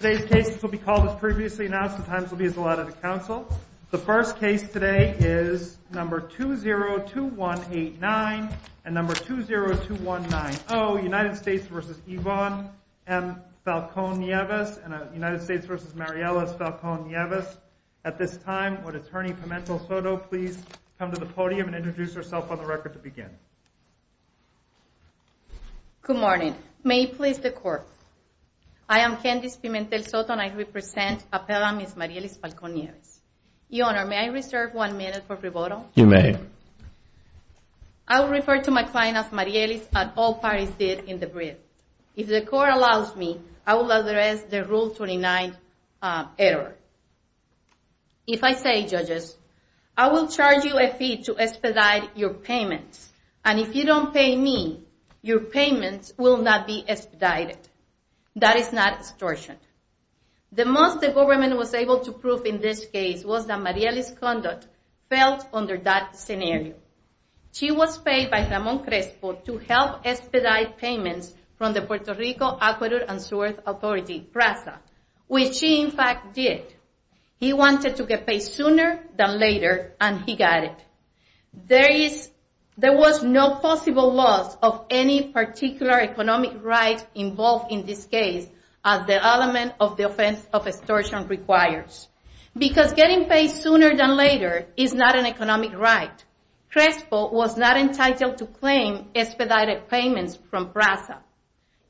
Good morning. May he please the court. I am Candice Pimentel-Soto. I am the attorney for the United States v. Ivan M. Falcon-Nieves. At this time, would Attorney Pimentel-Soto please come to the podium and introduce herself on the record to begin? Good morning. May he please the court. I am Candice Pimentel-Soto and I represent Appellant Ms. Marielis Falcon-Nieves. Your Honor, may I reserve one minute for rebuttal? You may. I will refer to my client as Marielis at all parties did in the brief. If the court allows me, I will address the Rule 29 error. If I say I will charge you a fee to expedite your payments. And if you don't pay me, your payments will not be expedited. That is not extortion. The most the government was able to prove in this case was that Marielis' conduct fell under that scenario. She was paid by Ramon Crespo to help expedite payments from the Puerto Rico, Ecuador, and Suez Authority, PRASA, which she in fact did. He wanted to get paid sooner than later and he got it. There was no possible loss of any particular economic right involved in this case as the element of the offense of extortion requires. Because getting paid sooner than later is not an economic right. Crespo was not entitled to claim expedited payments from PRASA.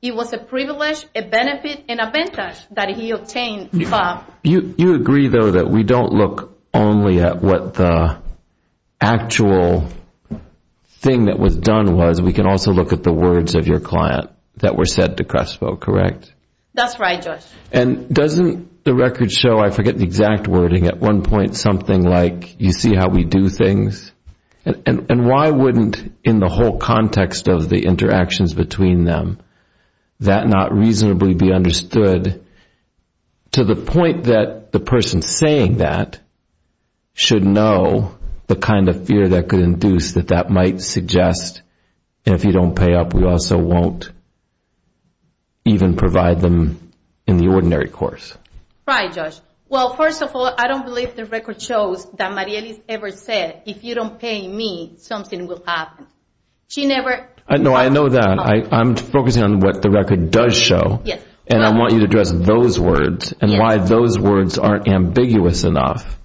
It was a privilege, a benefit, and a advantage that he obtained. You agree though that we don't look only at what the actual thing that was done was. We can also look at the words of your client that were said to Crespo, correct? That's right, Josh. And doesn't the record show, I forget the exact wording, at one point something like you see how we do things? And why wouldn't in the whole context of the interactions between them that not reasonably be understood to the point that the person saying that should know the kind of fear that could induce that that might suggest if you don't pay up we also won't even provide them in the ordinary course? Right, Josh. Well, first of all, I don't know that. I'm focusing on what the record does show and I want you to address those words and why those words aren't ambiguous enough.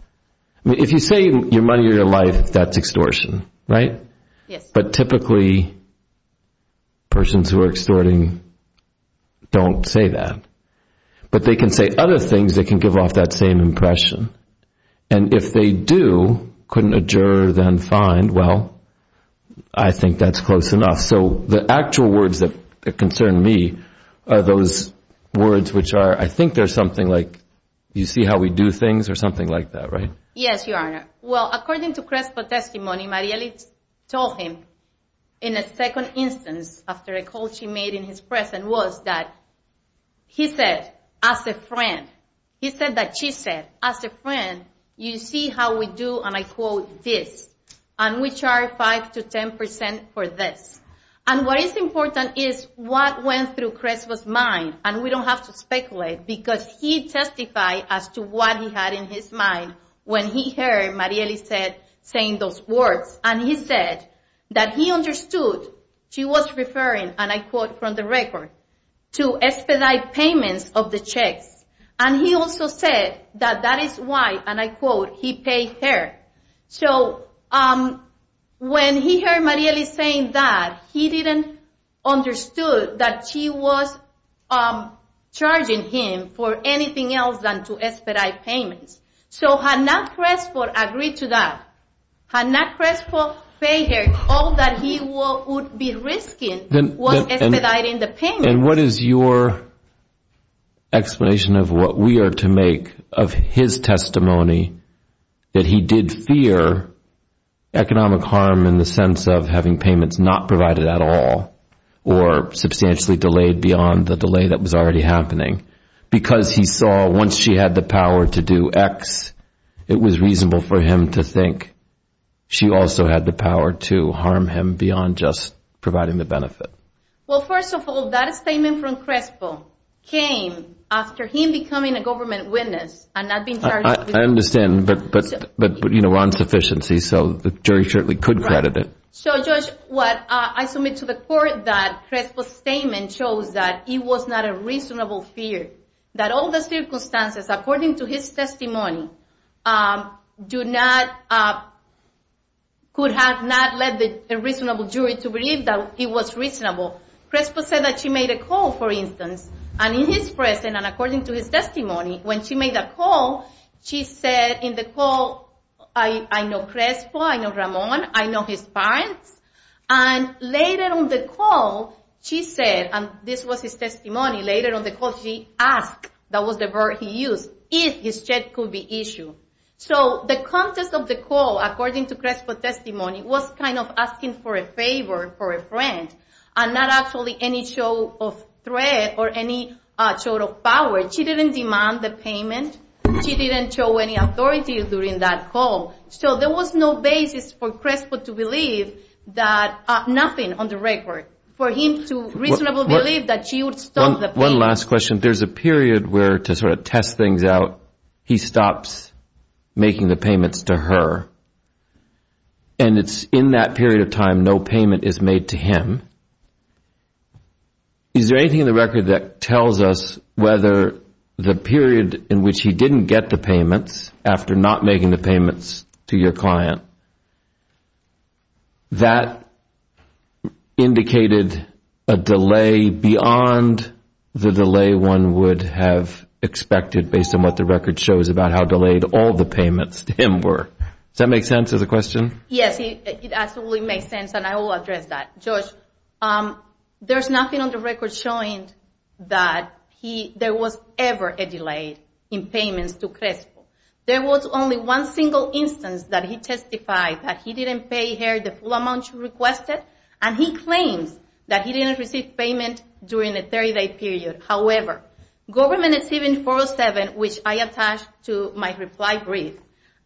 If you say your money or your life, that's extortion, right? But typically persons who are extorting don't say that. But they can say other things that can give off that same impression. And if they do, couldn't a juror then find, well, I think that's close enough. So the actual words that concern me are those words which are, I think they're something like you see how we do things or something like that, right? Yes, Your Honor. Well, according to Crespo's testimony, Marielle told him in a second instance after a call she made in his presence was that he said, as a friend, you see how we do, and I quote, this. And we charge 5 to 10 percent for this. And what is important is what went through Crespo's mind. And we don't have to speculate because he testified as to what he had in his mind when he heard Marielle saying those words. And he said that he understood she was referring, and I quote from the record, to expedite payments of the checks. And he also said that that is why, and I quote, he paid her. So when he heard Marielle saying that, he didn't understand that she was charging him for anything else than to expedite payments. So had not Crespo agreed to that, had not Crespo paid her, all that he would be risking was expediting the payments. And what is your explanation of what we are to make of his testimony that he did fear economic harm in the sense of having payments not provided at all or substantially delayed beyond the delay that was already happening? Because he saw once she had the power to do X, it was reasonable for him to think she also had the power to harm him beyond just providing the benefit. Well, first of all, that statement from Crespo came after him becoming a government witness and not being charged. I understand, but Ron's sufficiency, so the jury certainly could credit it. So, Judge, I submit to the court that Crespo's statement shows that he was not a reasonable fear, that all the circumstances according to his testimony could have not led the reasonable jury to believe that he was reasonable. Crespo said that she made a call, for instance, and in his presence and according to his testimony, when she made that call, she said in the call, I know Crespo, I know Ramon, I know his parents. And later on the call, she said, and this was his testimony, later on the call, she asked, that was the verb he used, if his check could be issued. So the context of the call, according to Crespo's testimony, was kind of asking for a favor, for a friend, and not actually any show of threat or any show of power. She didn't demand the payment. She didn't show any authority during that call. So there was no basis for Crespo to believe that, nothing on the record, for him to reasonably believe that she would stop the payment. One last question. There's a period where, to sort of test things out, he stops making the payments to her. And it's in that period of time no payment is made to him. Is there anything in the record that tells us whether the period in which he didn't get the payments, after not making the payments to your client, that indicated a delay beyond the delay one would have expected based on what the record shows about how delayed all the payments to him were? Does that make sense as a question? Yes, it absolutely makes sense, and I will address that. Josh, there's nothing on the record showing that there was ever a delay in payments to Crespo. There was only one single instance that he testified that he didn't pay the full amount you requested, and he claims that he didn't receive payment during the 30-day period. However, Government Exhibit 407, which I attached to my reply brief,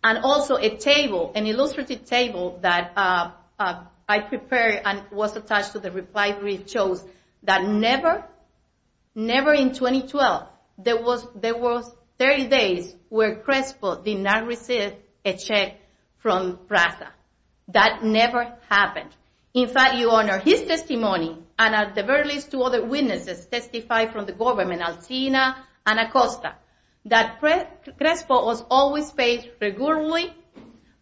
and also a table, an illustrative table that I prepared and was attached to the reply brief, shows that never, never in 2012, there was 30 days where Crespo did not receive a check from Prasa. That never happened. In fact, Your Honor, his testimony, and at the very least two other witnesses testified from the government, Alcina and Acosta, that Crespo was always paid regularly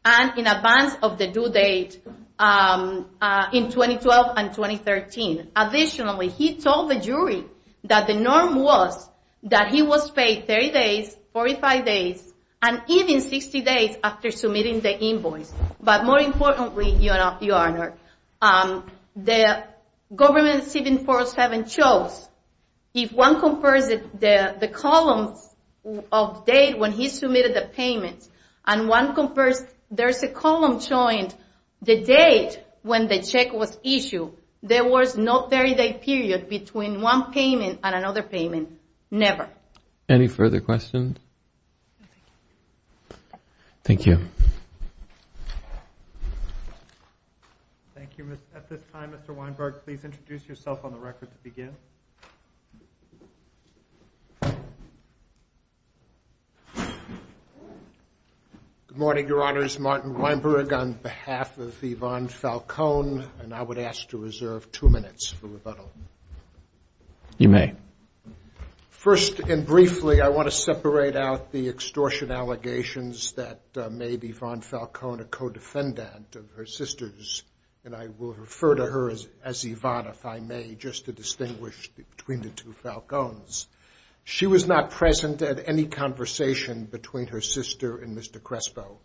and in advance of the due date in 2012 and 2013. Additionally, he told the jury that the norm was that he was paid 60 days after submitting the invoice. But more importantly, Your Honor, the Government Exhibit 407 shows if one compares the columns of date when he submitted the payments, and one compares, there's a column showing the date when the check was issued. There was no 30-day period between one payment and another payment, never. Any further questions? Thank you. Thank you. At this time, Mr. Weinberg, please introduce yourself on the record to begin. Good morning, Your Honors. Martin Weinberg on behalf of Yvonne Falcone, and I would ask to reserve two minutes for rebuttal. You may. First and briefly, I want to separate out the extortion allegations that made Yvonne Falcone a co-defendant of her sisters, and I will refer to her as Yvonne, if I may, just to distinguish between the two Falcones. She was not present at any conversation between her sister and Mr. Crespo.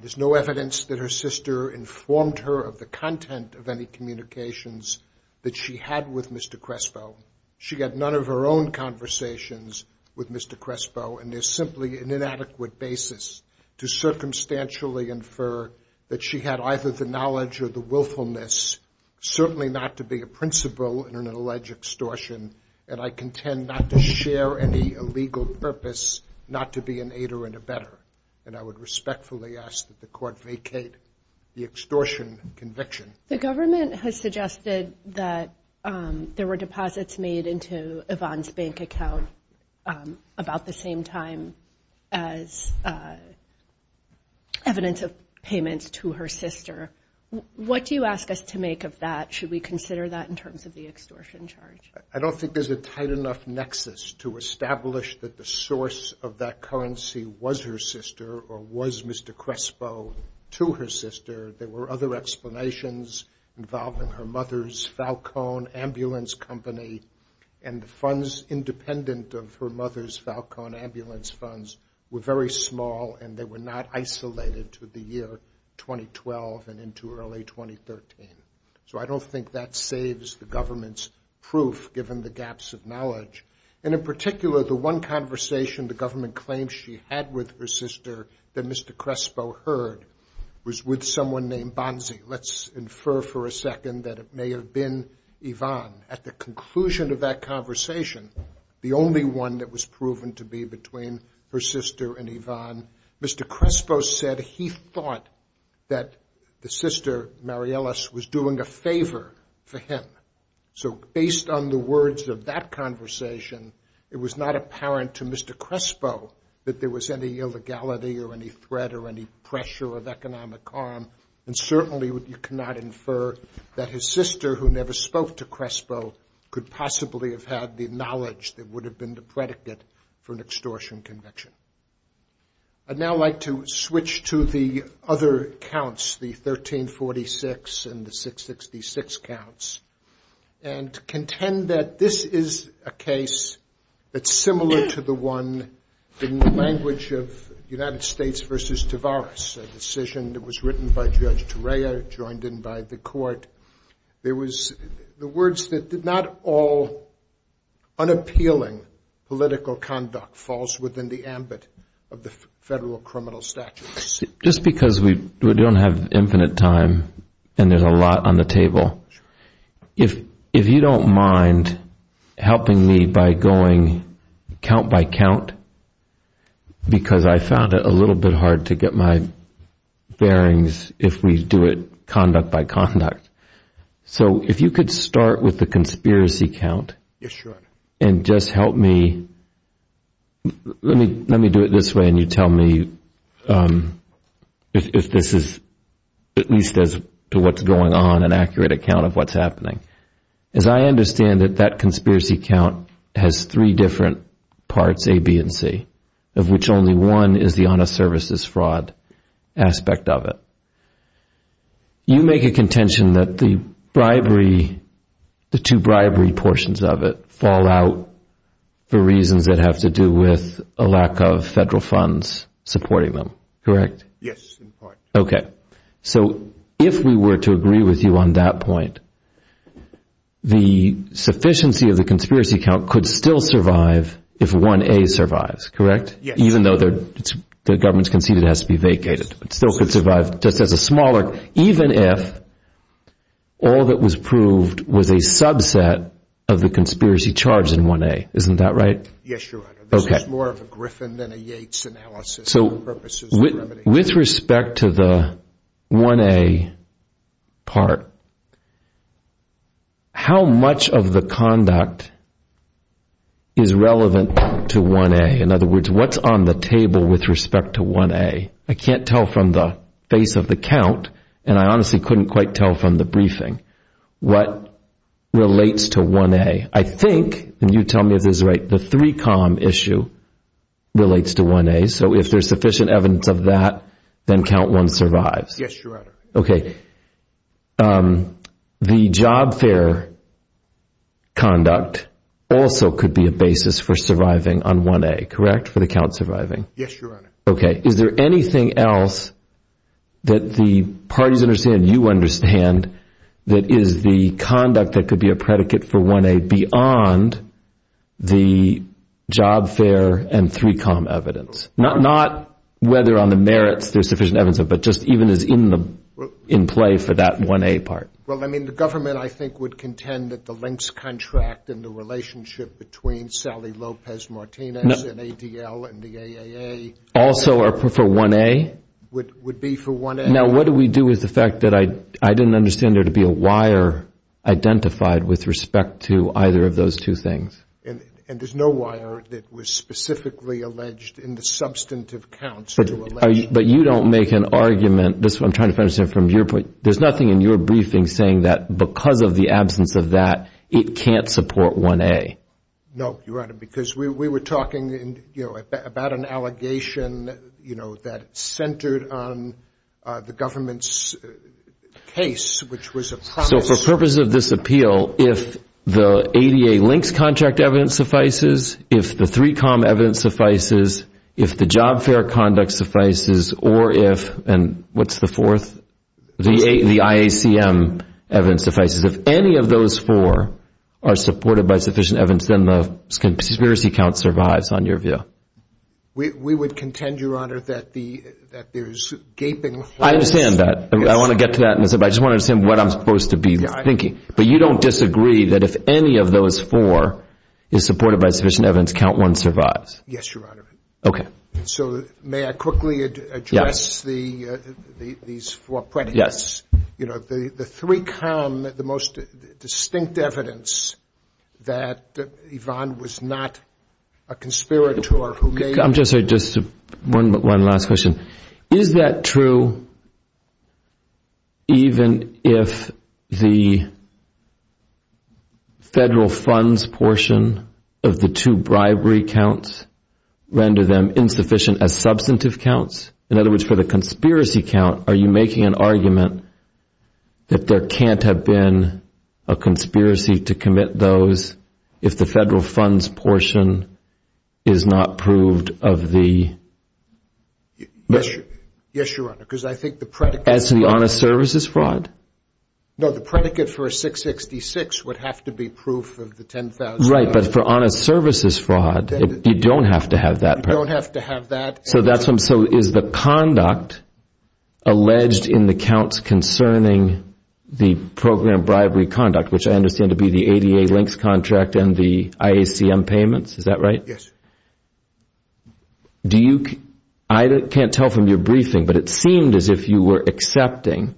There's no evidence that her sister informed her of the content of any communications that she had with Mr. Crespo. She had none of her own conversations with Mr. Crespo, and there's simply an inadequate basis to circumstantially infer that she had either the knowledge or the willfulness, certainly not to be a principal in an alleged extortion, and I contend not to share any illegal purpose not to be an aider and a better, and I would respectfully ask that the court vacate the extortion conviction. The government has suggested that there were deposits made into Yvonne's bank account about the same time as evidence of payments to her sister. What do you ask us to make of that? Should we consider that in terms of the extortion charge? I don't think there's a tight enough nexus to establish that the source of that currency was her sister or was Mr. Crespo to her sister. There were other explanations involving her mother's Falcone Ambulance Company, and the funds independent of her mother's Falcone Ambulance Funds were very small, and they were not isolated to the year 2012 and into early 2013. So I don't think that saves the government's proof, given the gaps of knowledge. And in particular, the one conversation the government claims she had with her sister that Mr. Crespo heard was with someone named Bonzi. Let's infer for a second that it may have been Yvonne. At the conclusion of that conversation, the only one that was proven to be between her sister and Yvonne, Mr. Crespo said that he thought that the sister, Mariellis, was doing a favor for him. So based on the words of that conversation, it was not apparent to Mr. Crespo that there was any illegality or any threat or any pressure of economic harm. And certainly you cannot infer that his sister, who never spoke to Crespo, could possibly have had the knowledge that would have been the predicate for an extortion conviction. I'd now like to switch to the other counts, the 1346 and the 666 counts, and contend that this is a case that's similar to the one in the language of United States v. Tavares, a decision that was written by Judge Turea, joined in by the court. The words that did not all unappealing political conduct falls within the ambit of the federal criminal statutes. Let me do it this way and you tell me if this is, at least as to what's going on, an accurate account of what's happening. As I understand it, that conspiracy count has three different parts, A, B, and C, of which only one is the honest services fraud aspect of it. You make a contention that the bribery, the two bribery portions of it, fall out for reasons that have to do with a lack of federal funds supporting them, correct? Yes, in part. Okay. So if we were to agree with you on that point, the sufficiency of the conspiracy count could still survive if one A survives, correct? Yes. Even though the government's conceded it has to be vacated, it still could survive just as a smaller, even if all that was proved was a subset of the conspiracy charge in one A, isn't that right? Yes, Your Honor. This is more of a Griffin than a Yates analysis. So with respect to the one A part, how much of the conduct is relevant to one A? In other words, what's on the table with respect to one A? I can't tell from the face of the count, and I honestly couldn't quite tell from the briefing, what relates to one A. I think, and you tell me if this is right, the three column issue relates to one A. So if there's sufficient evidence of that, then count one survives. Yes, Your Honor. Okay. The job fair conduct also could be a basis for surviving on one A, correct, for the count surviving? Yes, Your Honor. Okay. Is there anything else that the parties understand, you understand, that is the conduct that could be a predicate for one A beyond the job fair and three column evidence? Not whether on the merits there's sufficient evidence of it, but just even as in the, in play for that one A part. Well, I mean, the government, I think, would contend that the links contract and the relationship between Sally Lopez Martinez and ADL and the AAA would be for one A. Now, what do we do with the fact that I didn't understand there to be a wire identified with respect to either of those two things? And there's no wire that was specifically alleged in the substantive counts. But you don't make an argument, I'm trying to understand from your point, there's nothing in your briefing saying that because of the I'm sorry, Your Honor, because we were talking about an allegation that centered on the government's case, which was a promise So for purpose of this appeal, if the ADA links contract evidence suffices, if the three column evidence suffices, if the job fair conduct suffices, or if, and what's the fourth, the IACM evidence suffices, if any of those four are supported by sufficient evidence, then the conspiracy count survives on your view. We would contend, Your Honor, that there's gaping holes. I understand that. I want to get to that in a second, but I just want to understand what I'm supposed to be thinking. But you don't disagree that if any of those four is supported by sufficient evidence, count one survives? Yes, Your Honor. Okay. So may I quickly address these four premises? Yes. You know, the three column, the most distinct evidence that Yvonne was not a conspirator who made I'm sorry, just one last question. Is that true, even if the federal funds portion of the two bribery counts render them insufficient as substantive counts? In other words, for the conspiracy count, are you making an argument that there can't have been a conspiracy to commit those if the federal funds portion is not proved of the, maybe it's not a conspiracy to commit those. Yes, Your Honor, because I think the predicate No, the predicate for a 666 would have to be proof of the $10,000. Right, but for honest services fraud, you don't have to have that. You don't have to have that. So is the conduct alleged in the counts concerning the program bribery conduct, which I understand to be the ADA links contract and the IACM payments? Is that right? Yes. I can't tell from your briefing, but it seemed as if you were accepting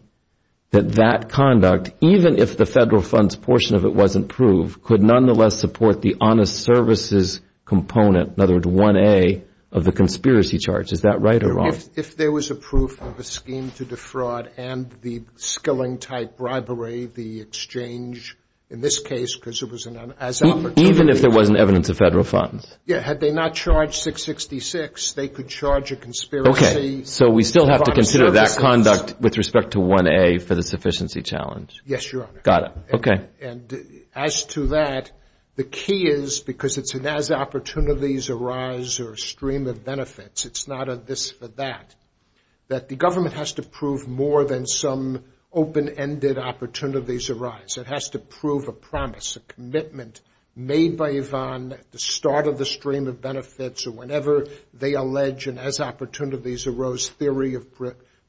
that that conduct, even if the federal funds portion of it wasn't proved, could nonetheless support the honest services component. In other words, 1A of the conspiracy charge. Is that right or wrong? If there was a proof of a scheme to defraud and the skilling type bribery, the exchange, in this case, because it was an as opportunity Even if there wasn't evidence of federal funds? Yeah, had they not charged 666, they could charge a conspiracy. Okay, so we still have to consider that conduct with respect to 1A for the sufficiency challenge. Yes, Your Honor. And as to that, the key is, because it's an as opportunities arise or stream of benefits, it's not a this or that, that the government has to prove more than some open-ended opportunities arise. It has to prove a promise, a commitment made by Yvonne at the start of the stream of benefits or whenever they allege an as opportunities arose theory of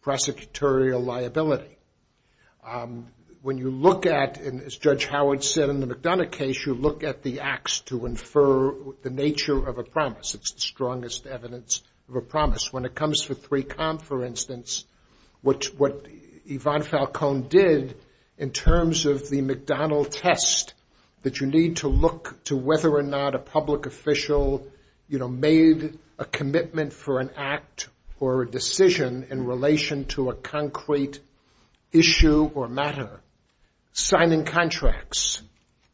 prosecutorial liability. When you look at, as Judge Howard said in the McDonough case, you look at the acts to infer the nature of a promise. It's the strongest evidence of a promise. When it comes to 3Com, for instance, what Yvonne Falcone did in terms of the McDonough test that you need to look to whether or not a public official made a commitment for an act or a decision in relation to a concrete issue or matter. Signing contracts,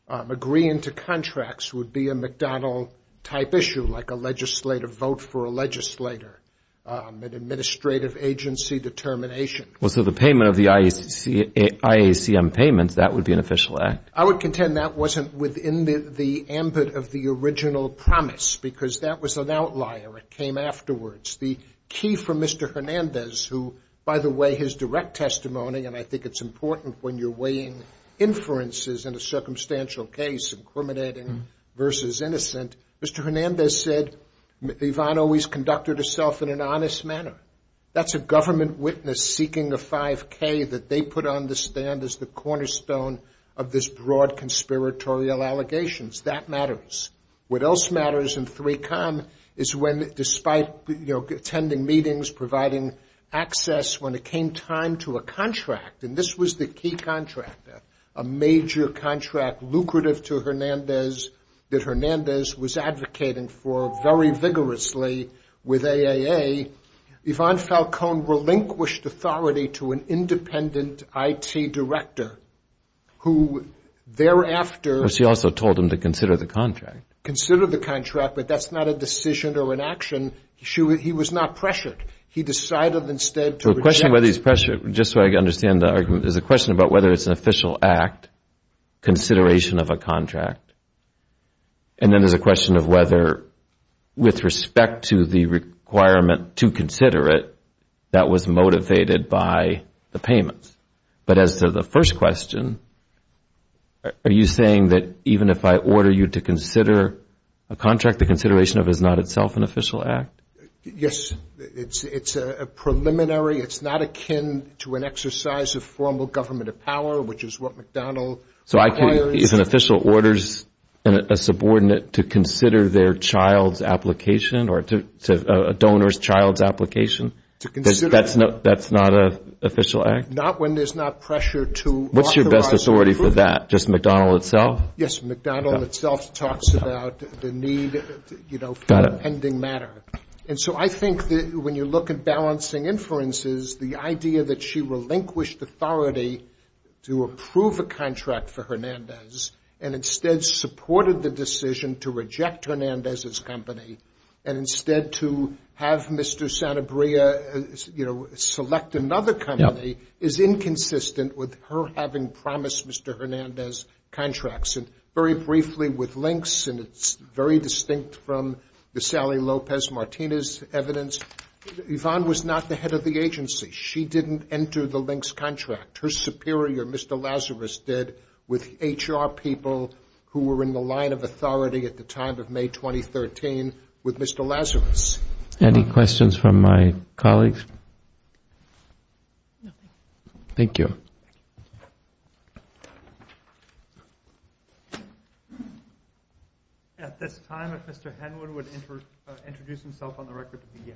agreeing to contracts would be a McDonough type issue, like a legislative vote for a legislator, an administrative agency determination. Well, so the payment of the IACM payments, that would be an official act. I would contend that wasn't within the ambit of the original promise, because that was an outlier. It came afterwards. The key for Mr. Hernandez, who, by the way, his direct testimony, and I think it's important when you're weighing inferences in a circumstantial case, incriminating versus innocent. Mr. Hernandez said Yvonne always conducted herself in an honest manner. That's a government witness seeking a 5K that they put on the stand as the cornerstone of this broad conspiratorial allegations. That matters. What else matters in 3Com is when, despite attending meetings, providing access, when it came time to a contract, and this was the key contract, a major contract lucrative to Hernandez that Hernandez was advocating for very vigorously with AAA, Yvonne Falcone relinquished authority to an independent IT director who thereafter... Consider the contract, but that's not a decision or an action. He was not pressured. He decided instead to... There's a question about whether it's an official act, consideration of a contract, and then there's a question of whether, with respect to the requirement to consider it, that was motivated by the payments. But as to the first question, are you saying that even if I order you to consider a contract, the consideration of it is not itself an official act? Yes. It's a preliminary. It's not akin to an exercise of formal government of power, which is what McDonnell requires. So is an official orders a subordinate to consider their child's application or a donor's child's application? That's not an official act? Not when there's not pressure to authorize... What's your best authority for that? Just McDonnell itself? Yes. McDonnell itself talks about the need for a pending matter. And so I think that when you look at balancing inferences, the idea that she relinquished authority to approve a contract for Hernandez and instead supported the decision to reject Hernandez's company and instead to have Mr. Santabria select another company is inconsistent with her having promised Mr. Hernandez contracts. And very briefly, with Lynx, and it's very distinct from the Sally Lopez Martinez evidence, Yvonne was not the head of the agency. She didn't enter the Lynx contract. Her superior, Mr. Lazarus, did with HR people who were in the line of authority at the time of May 2013 with Mr. Lazarus. Any questions from my colleagues? Thank you. At this time, if Mr. Henwood would introduce himself on the record to begin.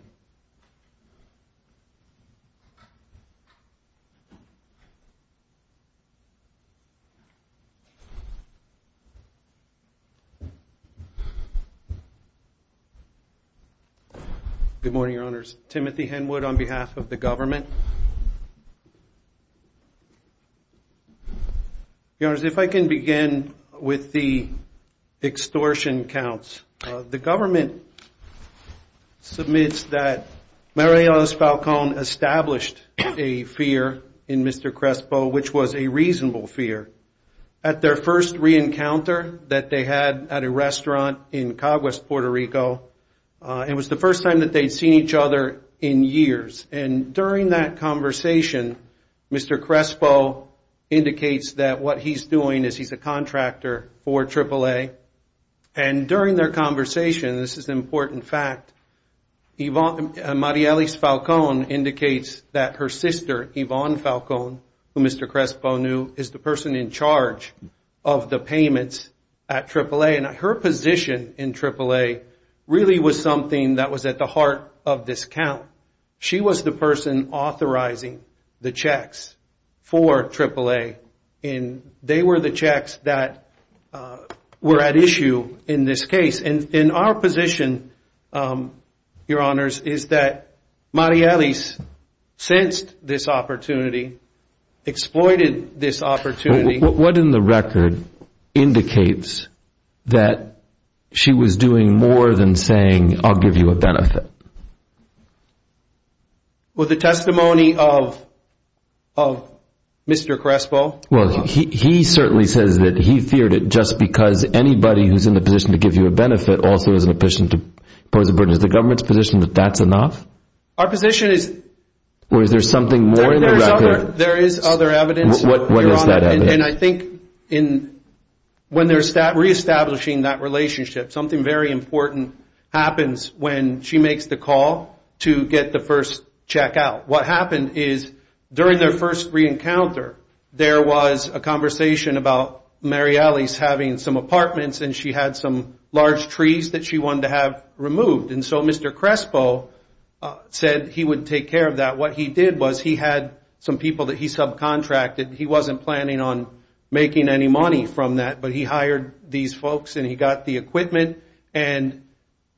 Good morning, Your Honors. Timothy Henwood on behalf of the government. Your Honors, if I can begin with the extortion counts. The government submits that Marios Falcón established a fear in Mr. Crespo, which was a reasonable fear. At their first re-encounter that they had at a restaurant in Caguas, Puerto Rico. It was the first time that they'd seen each other in years. And during that conversation, Mr. Crespo indicates that what he's doing is he's a contractor for AAA. And during their conversation, this is an important fact, Marios Falcón indicates that her sister, Yvonne Falcón, who Mr. Crespo knew, is the person in charge of the payments at AAA. And her position in AAA really was something that was at the heart of this count. She was the person authorizing the checks for AAA. And they were the checks that were at issue in this case. And in our position, Your Honors, is that Mariales sensed this opportunity, exploited this opportunity. What in the record indicates that she was doing more than saying, I'll give you a benefit? Well, the testimony of Mr. Crespo. Well, he certainly says that he feared it just because anybody who's in a position to give you a benefit also is in a position to pose a burden. Is the government's position that that's enough? Our position is... There is other evidence. And I think when they're reestablishing that relationship, something very important happens when she makes the call to get the first check out. What happened is during their first re-encounter, there was a conversation about Mariales having some apartments and she had some large trees that she wanted to have removed. And so Mr. Crespo said he would take care of that. What he did was he had some people that he subcontracted. He wasn't planning on making any money from that, but he hired these folks and he got the equipment. And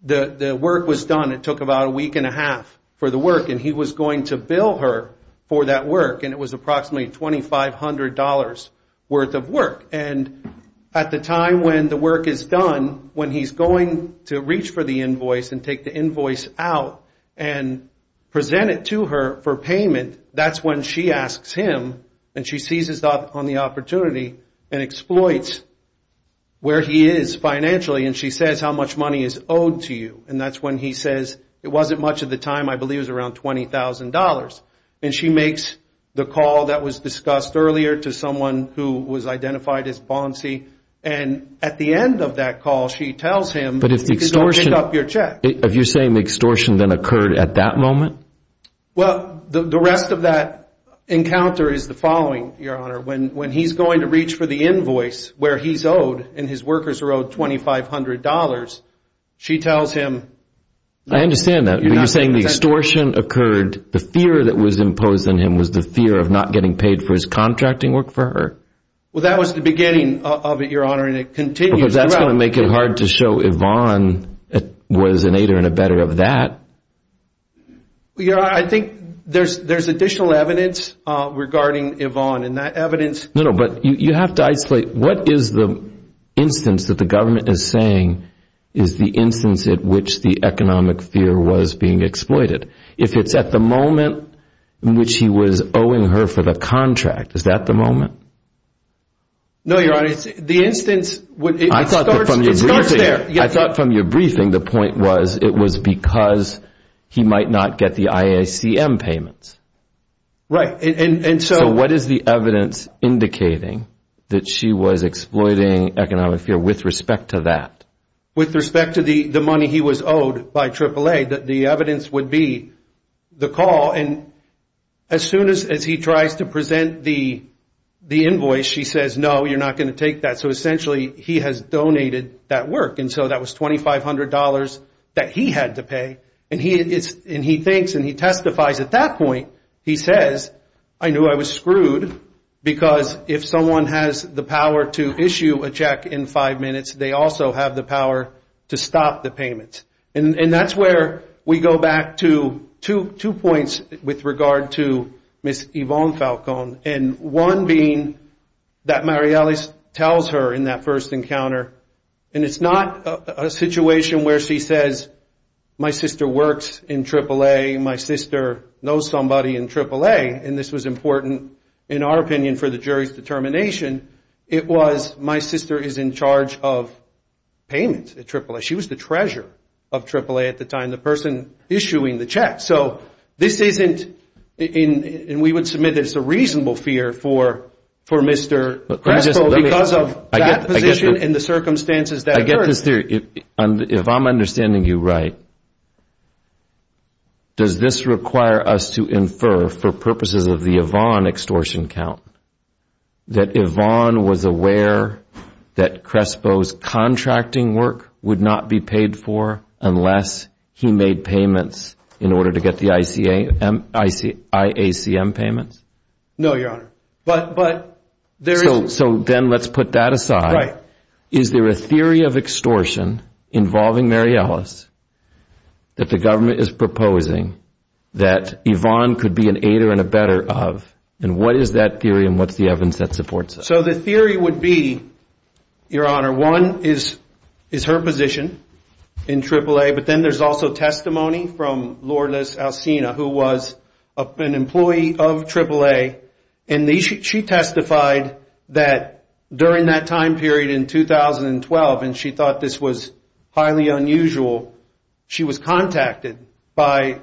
the work was done. It took about a week and a half for the work. And he was going to bill her for that work. And it was approximately $2,500 worth of work. And at the time when the work is done, when he's going to reach for the invoice and take the invoice out and present it to her for payment, that's when she asks him and she seizes on the opportunity and exploits where he is financially. And she says how much money is owed to you. And that's when he says it wasn't much at the time. I believe it was around $20,000. And she makes the call that was discussed earlier to someone who was identified as Bonsey. And at the end of that call, she tells him. But if you're saying the extortion then occurred at that moment? Well, the rest of that encounter is the following, Your Honor. When he's going to reach for the invoice where he's owed and his workers are owed $2,500, she tells him. I understand that. But you're saying the extortion occurred, the fear that was imposed on him was the fear of not getting paid for his contracting work for her? Well, that was the beginning of it, Your Honor, and it continues throughout. Because that's going to make it hard to show Yvonne was an aider and a better of that. I think there's additional evidence regarding Yvonne. No, no, but you have to isolate. What is the instance that the government is saying is the instance at which the economic fear was being exploited? If it's at the moment in which he was owing her for the contract, is that the moment? No, Your Honor. I thought from your briefing the point was it was because he might not get the IACM payments. Right. And so what is the evidence indicating that she was exploiting economic fear with respect to that? With respect to the money he was owed by AAA, that the evidence would be the call. And as soon as he tries to present the invoice, she says, no, you're not going to take that. So essentially he has donated that work. And so that was $2,500 that he had to pay. And he thinks and he testifies at that point, he says, I knew I was screwed because if someone has the power to issue a check in five minutes, they also have the power to stop the payments. And that's where we go back to two points with regard to Miss Yvonne Falcone. And one being that Mariellis tells her in that first encounter. And it's not a situation where she says, my sister works in AAA. My sister knows somebody in AAA. And this was important in our opinion for the jury's determination. It was my sister is in charge of payments at AAA. She was the treasurer of AAA at the time, the person issuing the check. So this isn't and we would submit it's a reasonable fear for Mr. Crespo because of that position and the circumstances that occurred. I get this theory. If I'm understanding you right. Does this require us to infer for purposes of the Yvonne extortion count that Yvonne was aware that Crespo's contracting work would not be paid for unless he made payments in order to get the IACM payments? No, Your Honor. So then let's put that aside. Is there a theory of extortion involving Mariellis that the government is proposing that Yvonne could be an aider and a better of? And what is that theory and what's the evidence that supports it? So the theory would be, Your Honor, one is her position in AAA. But then there's also testimony from Lourdes Alcina, who was an employee of AAA. And she testified that during that time period in 2012, and she thought this was highly unusual. She was contacted by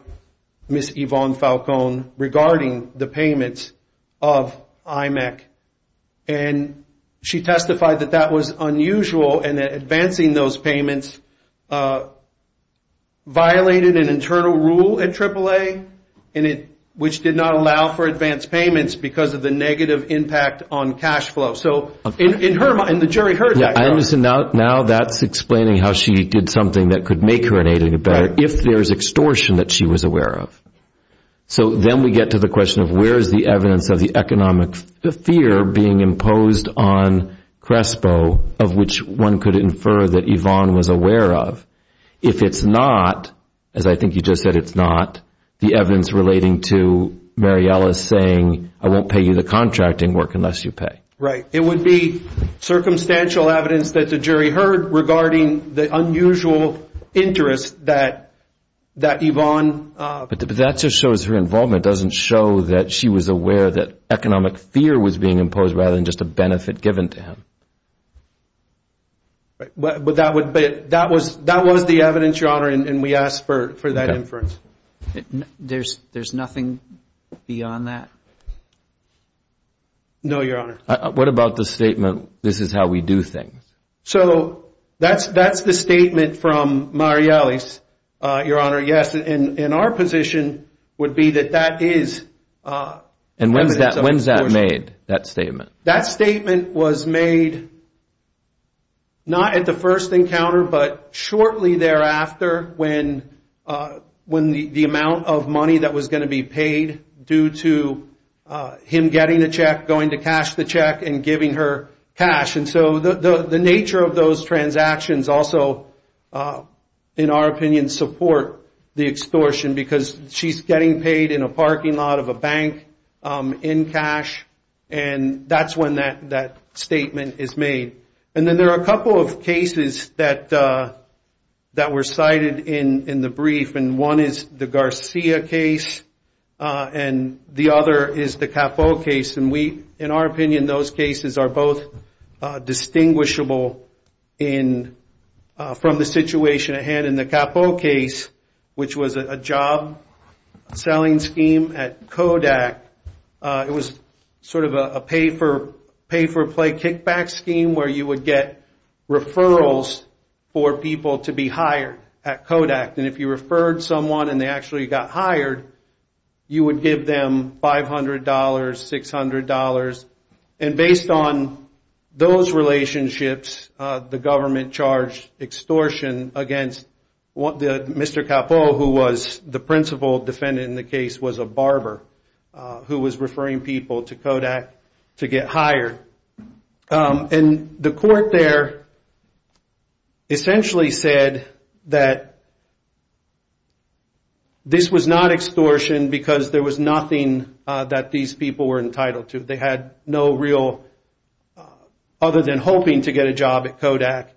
Ms. Yvonne Falcone regarding the payments of IMEC. And she testified that that was unusual and advancing those payments violated an internal rule at AAA. And it, which did not allow for advanced payments because of the negative impact on cash flow. So in her mind, the jury heard that. Now that's explaining how she did something that could make her an aider and a better if there's extortion that she was aware of. So then we get to the question of where is the evidence of the economic fear being imposed on Crespo of which one could infer that Yvonne was aware of. If it's not, as I think you just said, it's not the evidence relating to Mariella saying, I won't pay you the contracting work unless you pay. Right. It would be circumstantial evidence that the jury heard regarding the unusual interest that Yvonne. But that just shows her involvement doesn't show that she was aware that economic fear was being imposed rather than just a benefit given to him. But that would be it. That was that was the evidence, your honor. And we ask for that inference. There's there's nothing beyond that. No, your honor. What about the statement? This is how we do things. So that's that's the statement from Marielle. Your honor. Yes. And our position would be that that is. And when's that when's that made that statement? That statement was made. Not at the first encounter, but shortly thereafter, when when the amount of money that was going to be paid due to him getting a check, going to cash the check and giving her cash. And so the nature of those transactions also, in our opinion, support the extortion because she's getting paid in a parking lot of a bank in cash. And that's when that that statement is made. And then there are a couple of cases that that were cited in the brief. And one is the Garcia case. And the other is the case. And we, in our opinion, those cases are both distinguishable in from the situation at hand in the case, which was a job selling scheme at Kodak. It was sort of a pay for pay for play kickback scheme where you would get referrals for people to be hired at Kodak. And if you referred someone and they actually got hired, you would give them five hundred dollars, six hundred dollars. And based on those relationships, the government charged extortion against what the Mr. Capone, who was the principal defendant in the case, was a barber who was referring people to Kodak to get hired. And the court there. This was not extortion because there was nothing that these people were entitled to. They had no real other than hoping to get a job at Kodak.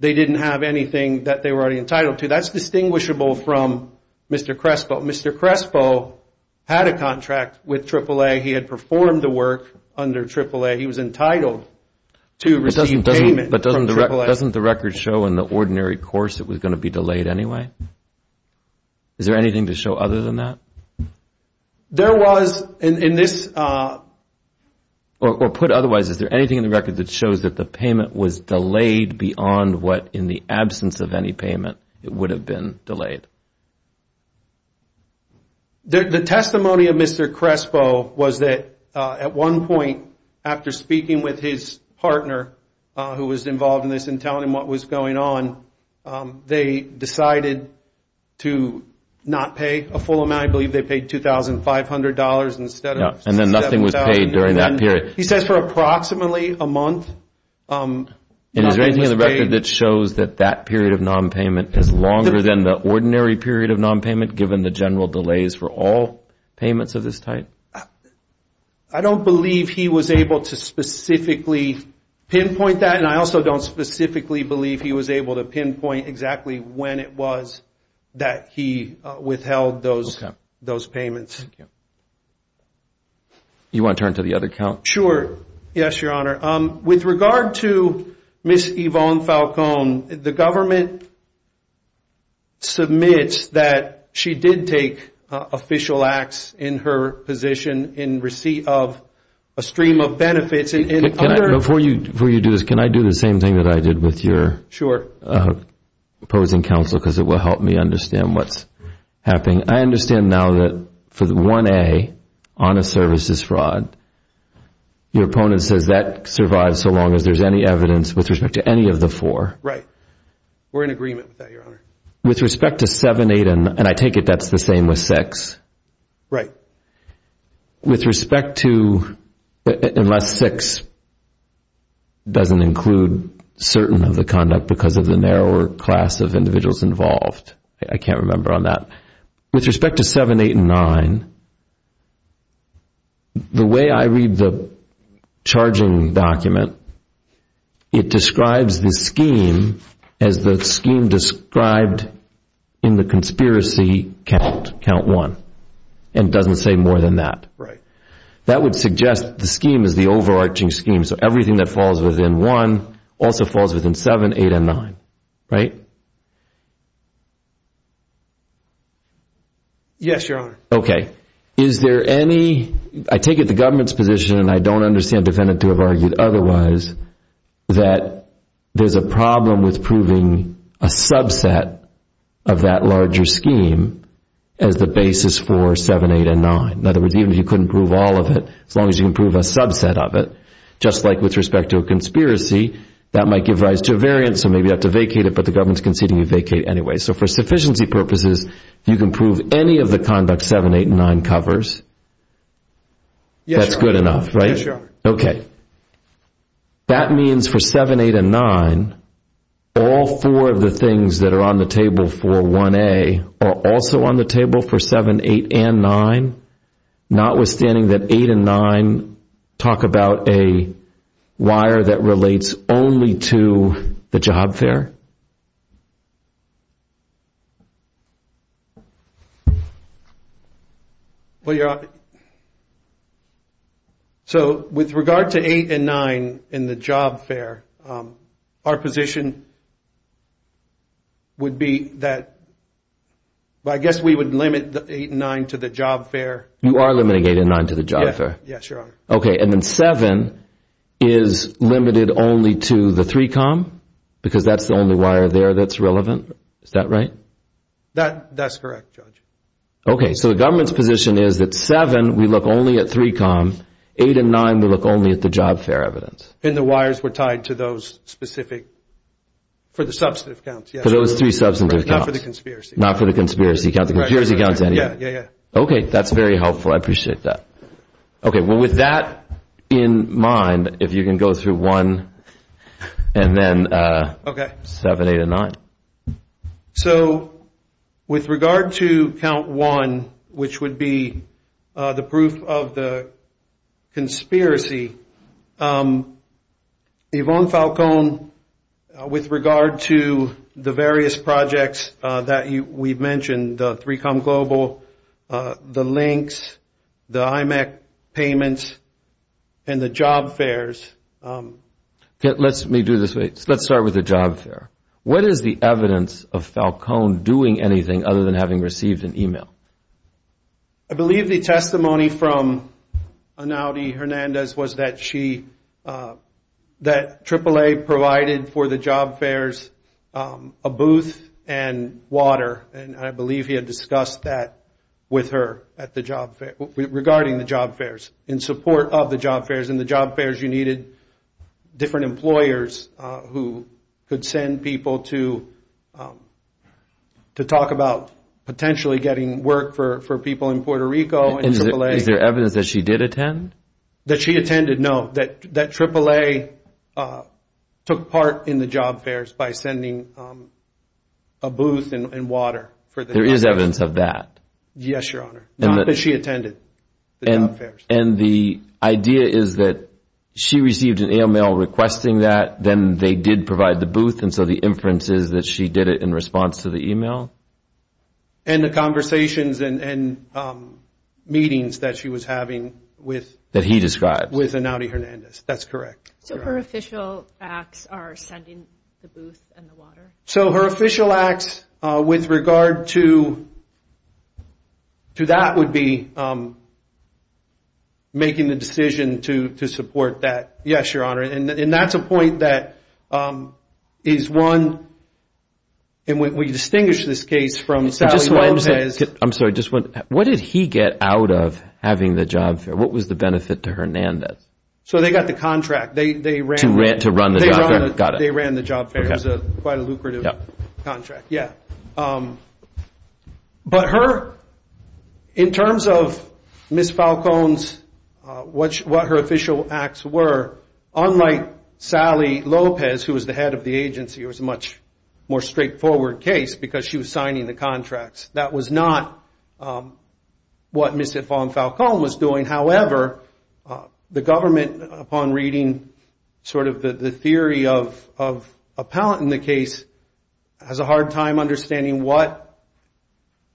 They didn't have anything that they were already entitled to. That's distinguishable from Mr. Crespo. Mr. Crespo had a contract with AAA. He had performed the work under AAA. He was entitled to receive payment. Doesn't the record show in the ordinary course it was going to be delayed anyway? Is there anything to show other than that? Or put otherwise, is there anything in the record that shows that the payment was delayed beyond what in the absence of any payment it would have been delayed? The testimony of Mr. Crespo was that at one point after speaking with his partner who was involved in this and telling him what was going on, they decided to not pay a full amount. I believe they paid two thousand five hundred dollars instead. And then nothing was paid during that period. He says for approximately a month. Is there anything in the record that shows that that period of nonpayment is longer than the ordinary period of nonpayment given the general delays for all payments of this type? I don't believe he was able to specifically pinpoint that. And I also don't specifically believe he was able to pinpoint exactly when it was that he withheld those payments. You want to turn to the other count? Sure. Yes, Your Honor. With regard to Ms. Yvonne Falcone, the government submits that she did take official acts in her position in receipt of a stream of benefits. Before you do this, can I do the same thing that I did with your opposing counsel? Because it will help me understand what's happening. I understand now that for the 1A, honest services fraud, your opponent says that survives so long as there's any evidence with respect to any of the four. Right. We're in agreement with that, Your Honor. With respect to 7, 8, and I take it that's the same with 6. Right. With respect to unless 6 doesn't include certain of the conduct because of the narrower class of individuals involved. I can't remember on that. With respect to 7, 8, and 9, the way I read the charging document, it describes the scheme as the scheme described in the conspiracy count, count 1, and doesn't say more than that. That would suggest the scheme is the overarching scheme, so everything that falls within 1 also falls within 7, 8, and 9. Right? Yes, Your Honor. Okay. Is there any, I take it the government's position, and I don't understand defendant to have argued otherwise, that there's a problem with proving a subset of that as long as you can prove a subset of it. Just like with respect to a conspiracy, that might give rise to a variant, so maybe you have to vacate it, but the government's conceding you vacate it anyway. So for sufficiency purposes, you can prove any of the conduct 7, 8, and 9 covers? Yes, Your Honor. That's good enough, right? Yes, Your Honor. Okay. That means for 7, 8, and 9, all four of the things that are on the table for 1A are also on the table for 7, 8, and 9, notwithstanding that 8 and 9 talk about a wire that relates only to the job fair? Well, Your Honor, so with regard to 8 and 9 in the job fair, our position would be that, I guess we would limit 8 and 9 to the job fair. You are limiting 8 and 9 to the job fair? Yes, Your Honor. Okay, and then 7 is limited only to the 3Com? Because that's the only wire there that's relevant? Is that right? That's correct, Judge. Okay, so the government's position is that 7, we look only at 3Com, 8 and 9, we look only at the job fair evidence. And the wires were tied to those specific, for the substantive counts, yes. For those 3 substantive counts. Not for the conspiracy counts. Okay, that's very helpful. I appreciate that. Okay, well with that in mind, if you can go through 1 and then 7, 8, and 9. So, with regard to count 1, which would be the proof of the conspiracy, Yvonne Falcone, with regard to the various projects that we've mentioned, 3Com Global, the links, the IMEC payments, and the job fairs. Let me do this way. Let's start with the job fair. What is the evidence of Falcone doing anything other than having received an email? I believe the testimony from Anouti Hernandez was that she, that AAA provided for the job fairs a booth and water, and I believe he had discussed that with her at the job fair, regarding the job fairs, in support of the job fairs. In the job fairs you needed different employers who could send people to talk about potentially getting work for people in Puerto Rico. Is there evidence that she did attend? That she attended? No, that AAA took part in the job fairs by sending a booth and water. There is evidence of that? Yes, Your Honor. And the idea is that she received an email requesting that, then they did provide the booth, and so the inference is that she did it in response to the email? And the conversations and meetings that she was having with Anouti Hernandez. That's correct. So her official acts are sending the booth and the water? So her official acts with regard to that would be making the decision to support that. Yes, Your Honor. And that's a point that is one, and we distinguish this case from Sally Lopez. I'm sorry, just one. What did he get out of having the run the job fair? They ran the job fair. It was quite a lucrative contract. But her, in terms of Ms. Falcone's, what her official acts were, unlike Sally Lopez, who was the head of the agency, it was a much more straightforward case because she was signing the contracts. That was not what Ms. Yvonne Falcone was doing. However, the government, upon reading sort of the theory of Appellant in the case, has a hard time understanding what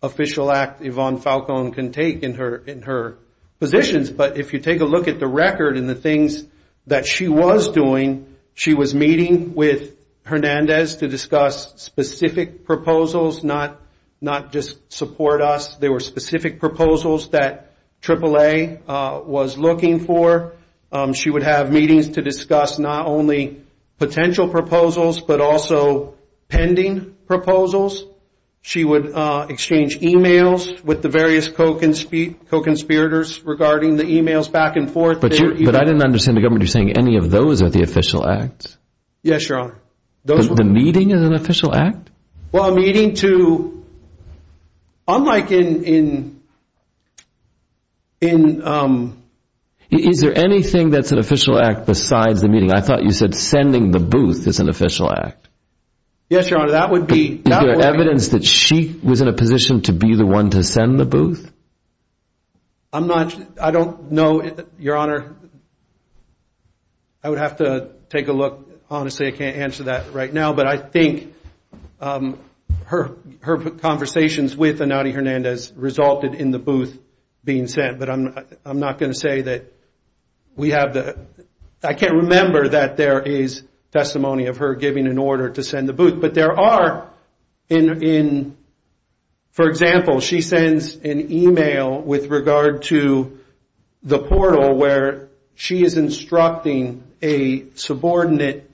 official act Yvonne Falcone can take in her positions. But if you take a look at the record and the things that she was doing, she was meeting with Hernandez to discuss specific proposals, not just support us. There were specific proposals that AAA was looking for. She would have meetings to discuss not only potential proposals, but also pending proposals. She would exchange emails with the various co-conspirators regarding the emails back and forth. But I didn't understand the government saying any of those are the official acts? Yes, Your Honor. The meeting is an official act? Unlike in... Is there anything that's an official act besides the meeting? I thought you said sending the booth is an official act. Yes, Your Honor, that would be... Is there evidence that she was in a position to be the one to send the booth? I don't know, Your Honor. I would have to take a look. Honestly, I can't answer that right now, but I think her conversations with Anati Hernandez resulted in the booth being sent. But I'm not going to say that we have the... I can't remember that there is testimony of her giving an order to send the booth. But there are, for example, she sends an email with regard to the portal where she is instructing a subordinate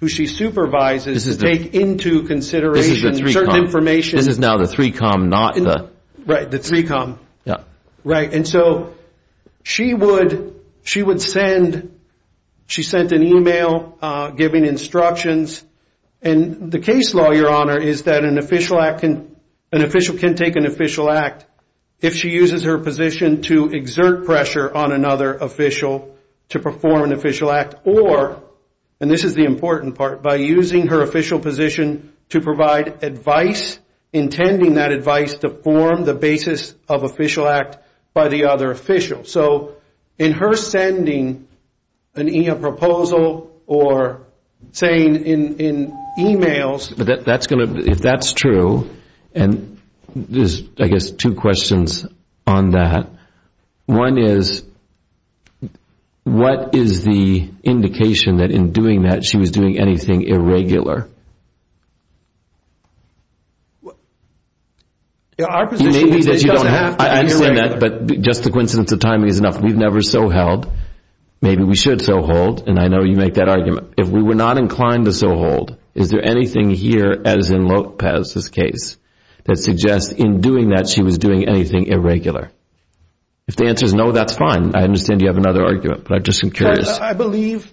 who she supervises to take into consideration certain information. This is now the 3Com, not the... Right, the 3Com. And so she would send... She sent an email giving instructions and the case law, Your Honor, is that an official can take an official act if she uses her position to exert pressure on another official to perform an official act or, and this is the important part, by using her official position to provide advice, intending that advice to form the basis of official act by the other official. So in her sending a proposal or saying in emails... If that's true, and I guess two questions on that. One is, what is the indication that in doing that she was doing anything irregular? I understand that, but just a coincidence of timing is enough. We've never so-held. Maybe we should so-hold, and I know you make that argument. If we were not inclined to so-hold, is there anything here, as in Lopez's case, that suggests in doing that she was doing anything irregular? If the answer is no, that's fine. I understand you have another argument, but I'm just curious. I believe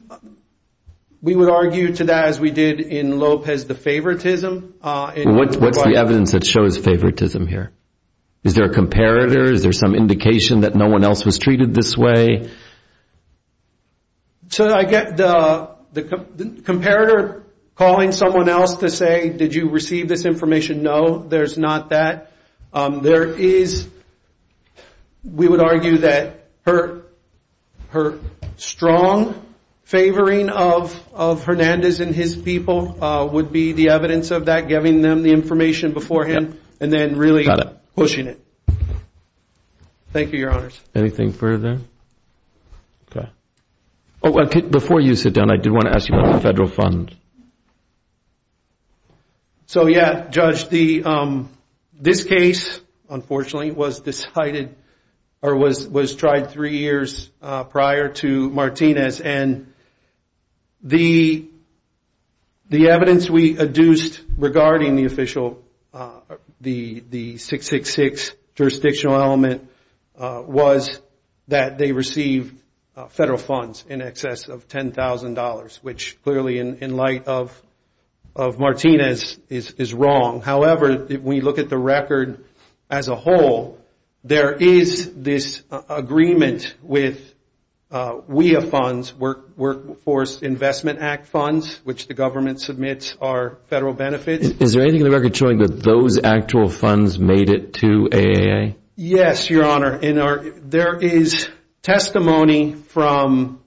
we would argue to that as we did in Lopez the favoritism. What's the evidence that shows favoritism here? Is there a comparator? Is there some indication that no one else was treated this way? So I get the comparator calling someone else to say, did you receive this information? No, there's not that. We would argue that her strong favoring of Hernandez and his people would be the evidence of that, giving them the information beforehand, and then really pushing it. Thank you, Your Honors. Before you sit down, I did want to ask you about the federal fund. So yeah, Judge, this case, unfortunately, was tried three years prior to Martinez, and the evidence we adduced regarding the 666 jurisdictional element was that they received federal funds in excess of $10,000, which clearly in light of Martinez is wrong. However, when you look at the record as a whole, there is this agreement with WEA funds, Workforce Investment Act funds, which the government submits are federal benefits. Is there anything in the record showing that those actual funds made it to AAA? Yes, Your Honor. There is testimony from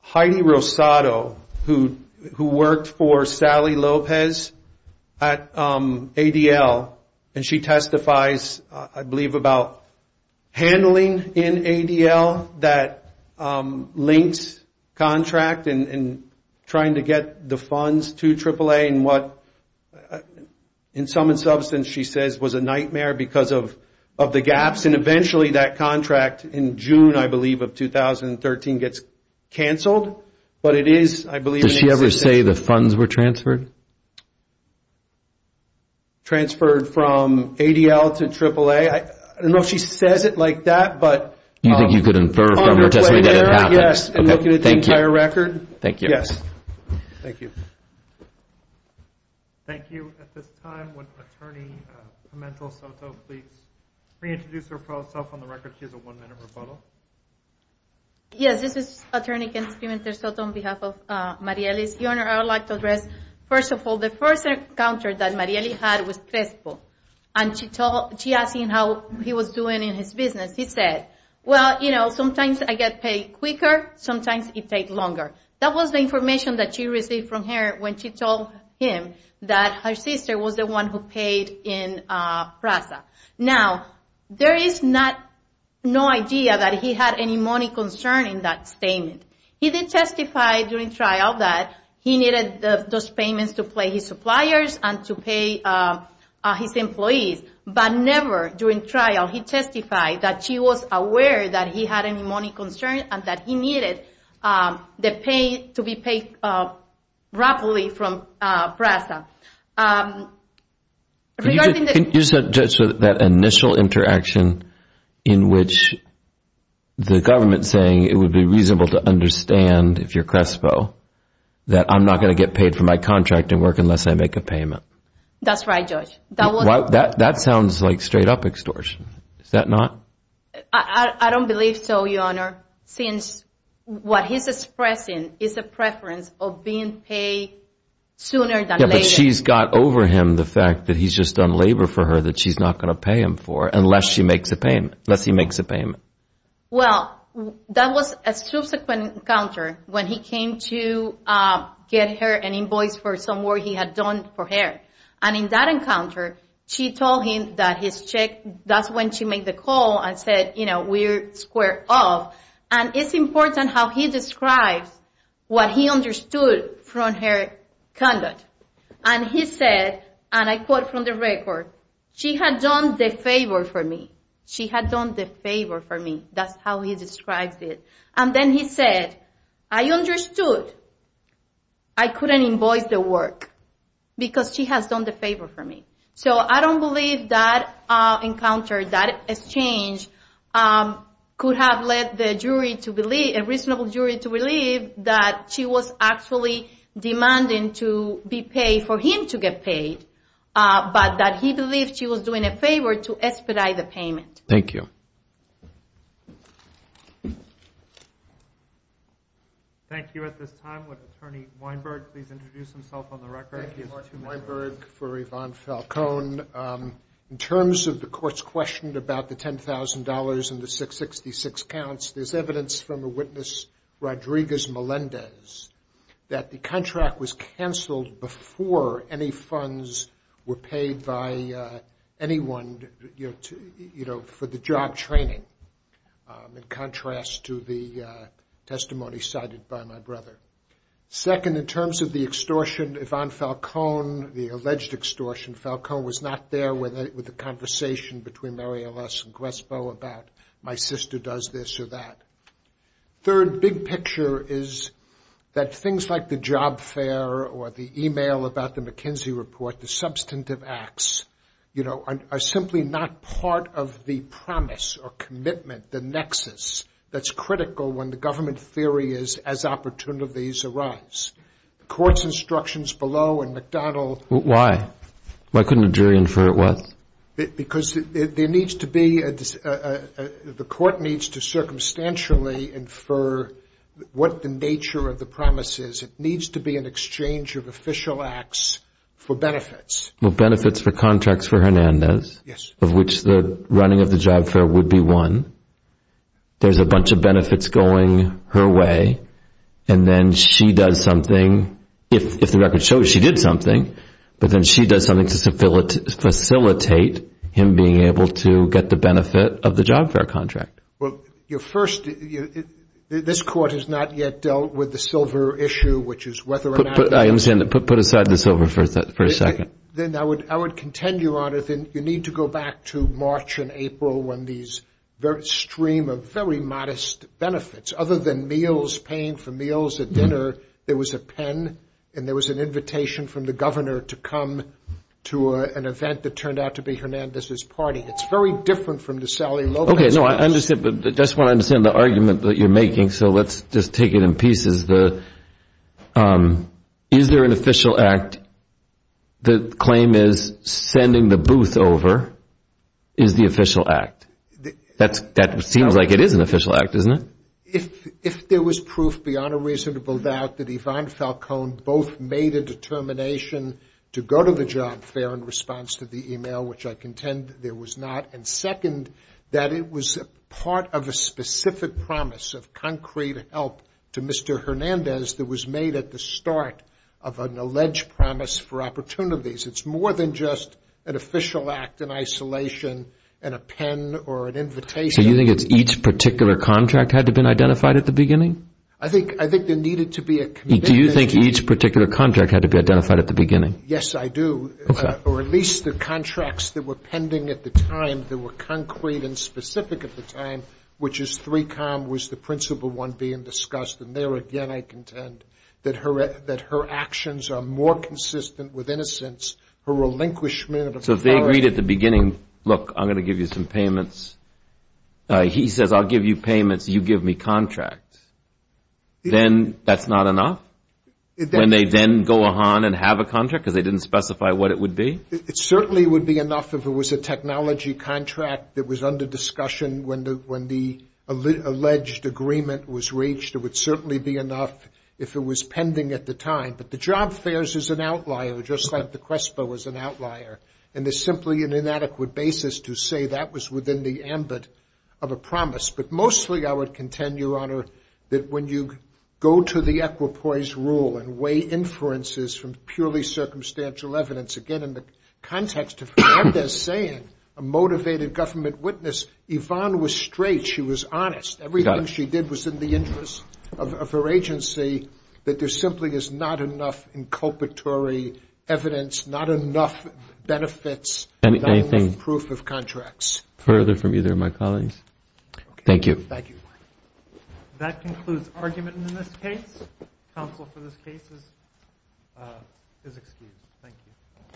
Heidi Rosado, who worked for Sally Lopez at ADL, and she testifies, I believe, about handling in ADL that links contract and trying to get the funds to AAA, and what in some substance she says was a nightmare because of the gaps, and eventually that contract in June, I believe, of 2013 gets canceled, but it is, I believe... Does she ever say the funds were transferred? Transferred from ADL to AAA? I don't know if she says it like that, but... Thank you. Thank you. At this time, would Attorney Pimentel-Soto please reintroduce herself on the record? She has a one-minute rebuttal. Yes, this is Attorney Pimentel-Soto on behalf of Marielle's. Your Honor, I would like to address, first of all, the first encounter that Marielle had was Prespo, and she asked him how he was doing in his business. He said, well, you know, sometimes I get paid quicker, sometimes it takes longer. That was the information that she received from him when she told him that her sister was the one who paid in Prespo. Now, there is no idea that he had any money concern in that statement. He did testify during trial that he needed those payments to pay his suppliers and to pay his employees, but never during trial did he testify that she was aware that he had any money concern and that he needed the pay to be paid properly from Prespo. Can you suggest that initial interaction in which the government is saying it would be reasonable to understand, if you're Prespo, that I'm not going to get paid for my contracting work unless I make a payment? That's right, Judge. That sounds like straight up extortion. Is that not? I don't believe so, Your Honor, since what he's expressing is a preference of being paid sooner than later. But she's got over him the fact that he's just done labor for her that she's not going to pay him for unless he makes a payment. Well, that was a subsequent encounter when he came to get her an invoice for some work he had done for her. And in that encounter, she told him that his check, that's when she made the call and said, you know, we're square off. And it's important how he describes what he understood from her conduct. And he said, and I quote from the record, she had done the favor for me. She had done the favor for me. That's how he describes it. And then he said, I understood. I couldn't invoice the work because she has done the favor for me. So I don't believe that encounter, that exchange could have led the jury to believe, a reasonable jury to believe that she was actually demanding to be paid for him to get paid, but that he believed she was doing a favor to expedite the payment. Thank you. Thank you. At this time, would Attorney Weinberg please introduce himself on the record? Thank you, Your Honor. I'm Attorney Weinberg for Yvonne Falcone. In terms of the courts questioned about the $10,000 and the 666 counts, there's evidence from a witness, Rodriguez Melendez, that the contract was canceled before any funds were paid by anyone, you know, for the job training, in contrast to the testimony cited by my brother. Second, in terms of the extortion, Yvonne Falcone, the alleged extortion, Falcone was not there with the conversation between Mary Aless and Grespo about my sister does this or that. Third, big picture is that things like the job fair or the email about the McKinsey report, the substantive acts, you know, are simply not part of the promise or commitment, the nexus that's critical when the government theory is as opportunities arise. The court's instructions below and McDonald... Why? Why couldn't a jury infer it was? Because the court needs to circumstantially infer what the nature of the promise is. It needs to be an exchange of official acts for benefits. Benefits for contracts for Hernandez, of which the running of the job fair would be one. There's a bunch of benefits going her way. And then she does something. If the record shows she did something, but then she does something to facilitate him being able to get the benefit of the job fair contract. Well, your first, this court has not yet dealt with the silver issue, which is whether or not... Put aside the silver for a second. Then I would contend, Your Honor, that you need to go back to March and April when these very stream of very modest benefits, other than meals, paying for meals at dinner, there was a pen and there was an invitation from the governor to come to an event that turned out to be Hernandez's party. It's very different from the Sally Lopez... Okay. No, I understand. But I just want to understand the argument that you're making. So let's just take it in pieces. Is there an official act? The claim is sending the booth over is the official act. That seems like it is an official act, isn't it? If there was proof beyond a reasonable doubt that Yvonne Falcone both made a determination to go to the job fair in response to the email, which I contend there was not. And second, that it was Hernandez that was made at the start of an alleged promise for opportunities. It's more than just an official act in isolation and a pen or an invitation... So you think it's each particular contract had to been identified at the beginning? I think there needed to be a commitment... Do you think each particular contract had to be identified at the beginning? Yes, I do. Or at least the contracts that were pending at the time that were concrete and discussed. And there again I contend that her actions are more consistent with innocence, her relinquishment... So if they agreed at the beginning, look, I'm going to give you some payments. He says, I'll give you payments, you give me contracts. Then that's not enough? When they then go on and have a contract because they didn't specify what it would be? It certainly would be enough if it was a technology contract that was under discussion when the alleged agreement was reached. It would certainly be enough if it was pending at the time. But the job fares is an outlier, just like the CRESPA was an outlier. And there's simply an inadequate basis to say that was within the ambit of a promise. But mostly I would contend, Your Honor, that when you go to the equipoise rule and weigh inferences from purely circumstantial evidence, again in the context of government witness, Yvonne was straight, she was honest. Everything she did was in the interest of her agency, that there simply is not enough inculpatory evidence, not enough benefits, not enough proof of contracts. Further from either of my colleagues? Thank you. That concludes argument in this case. Counsel for this case is excused. Thank you.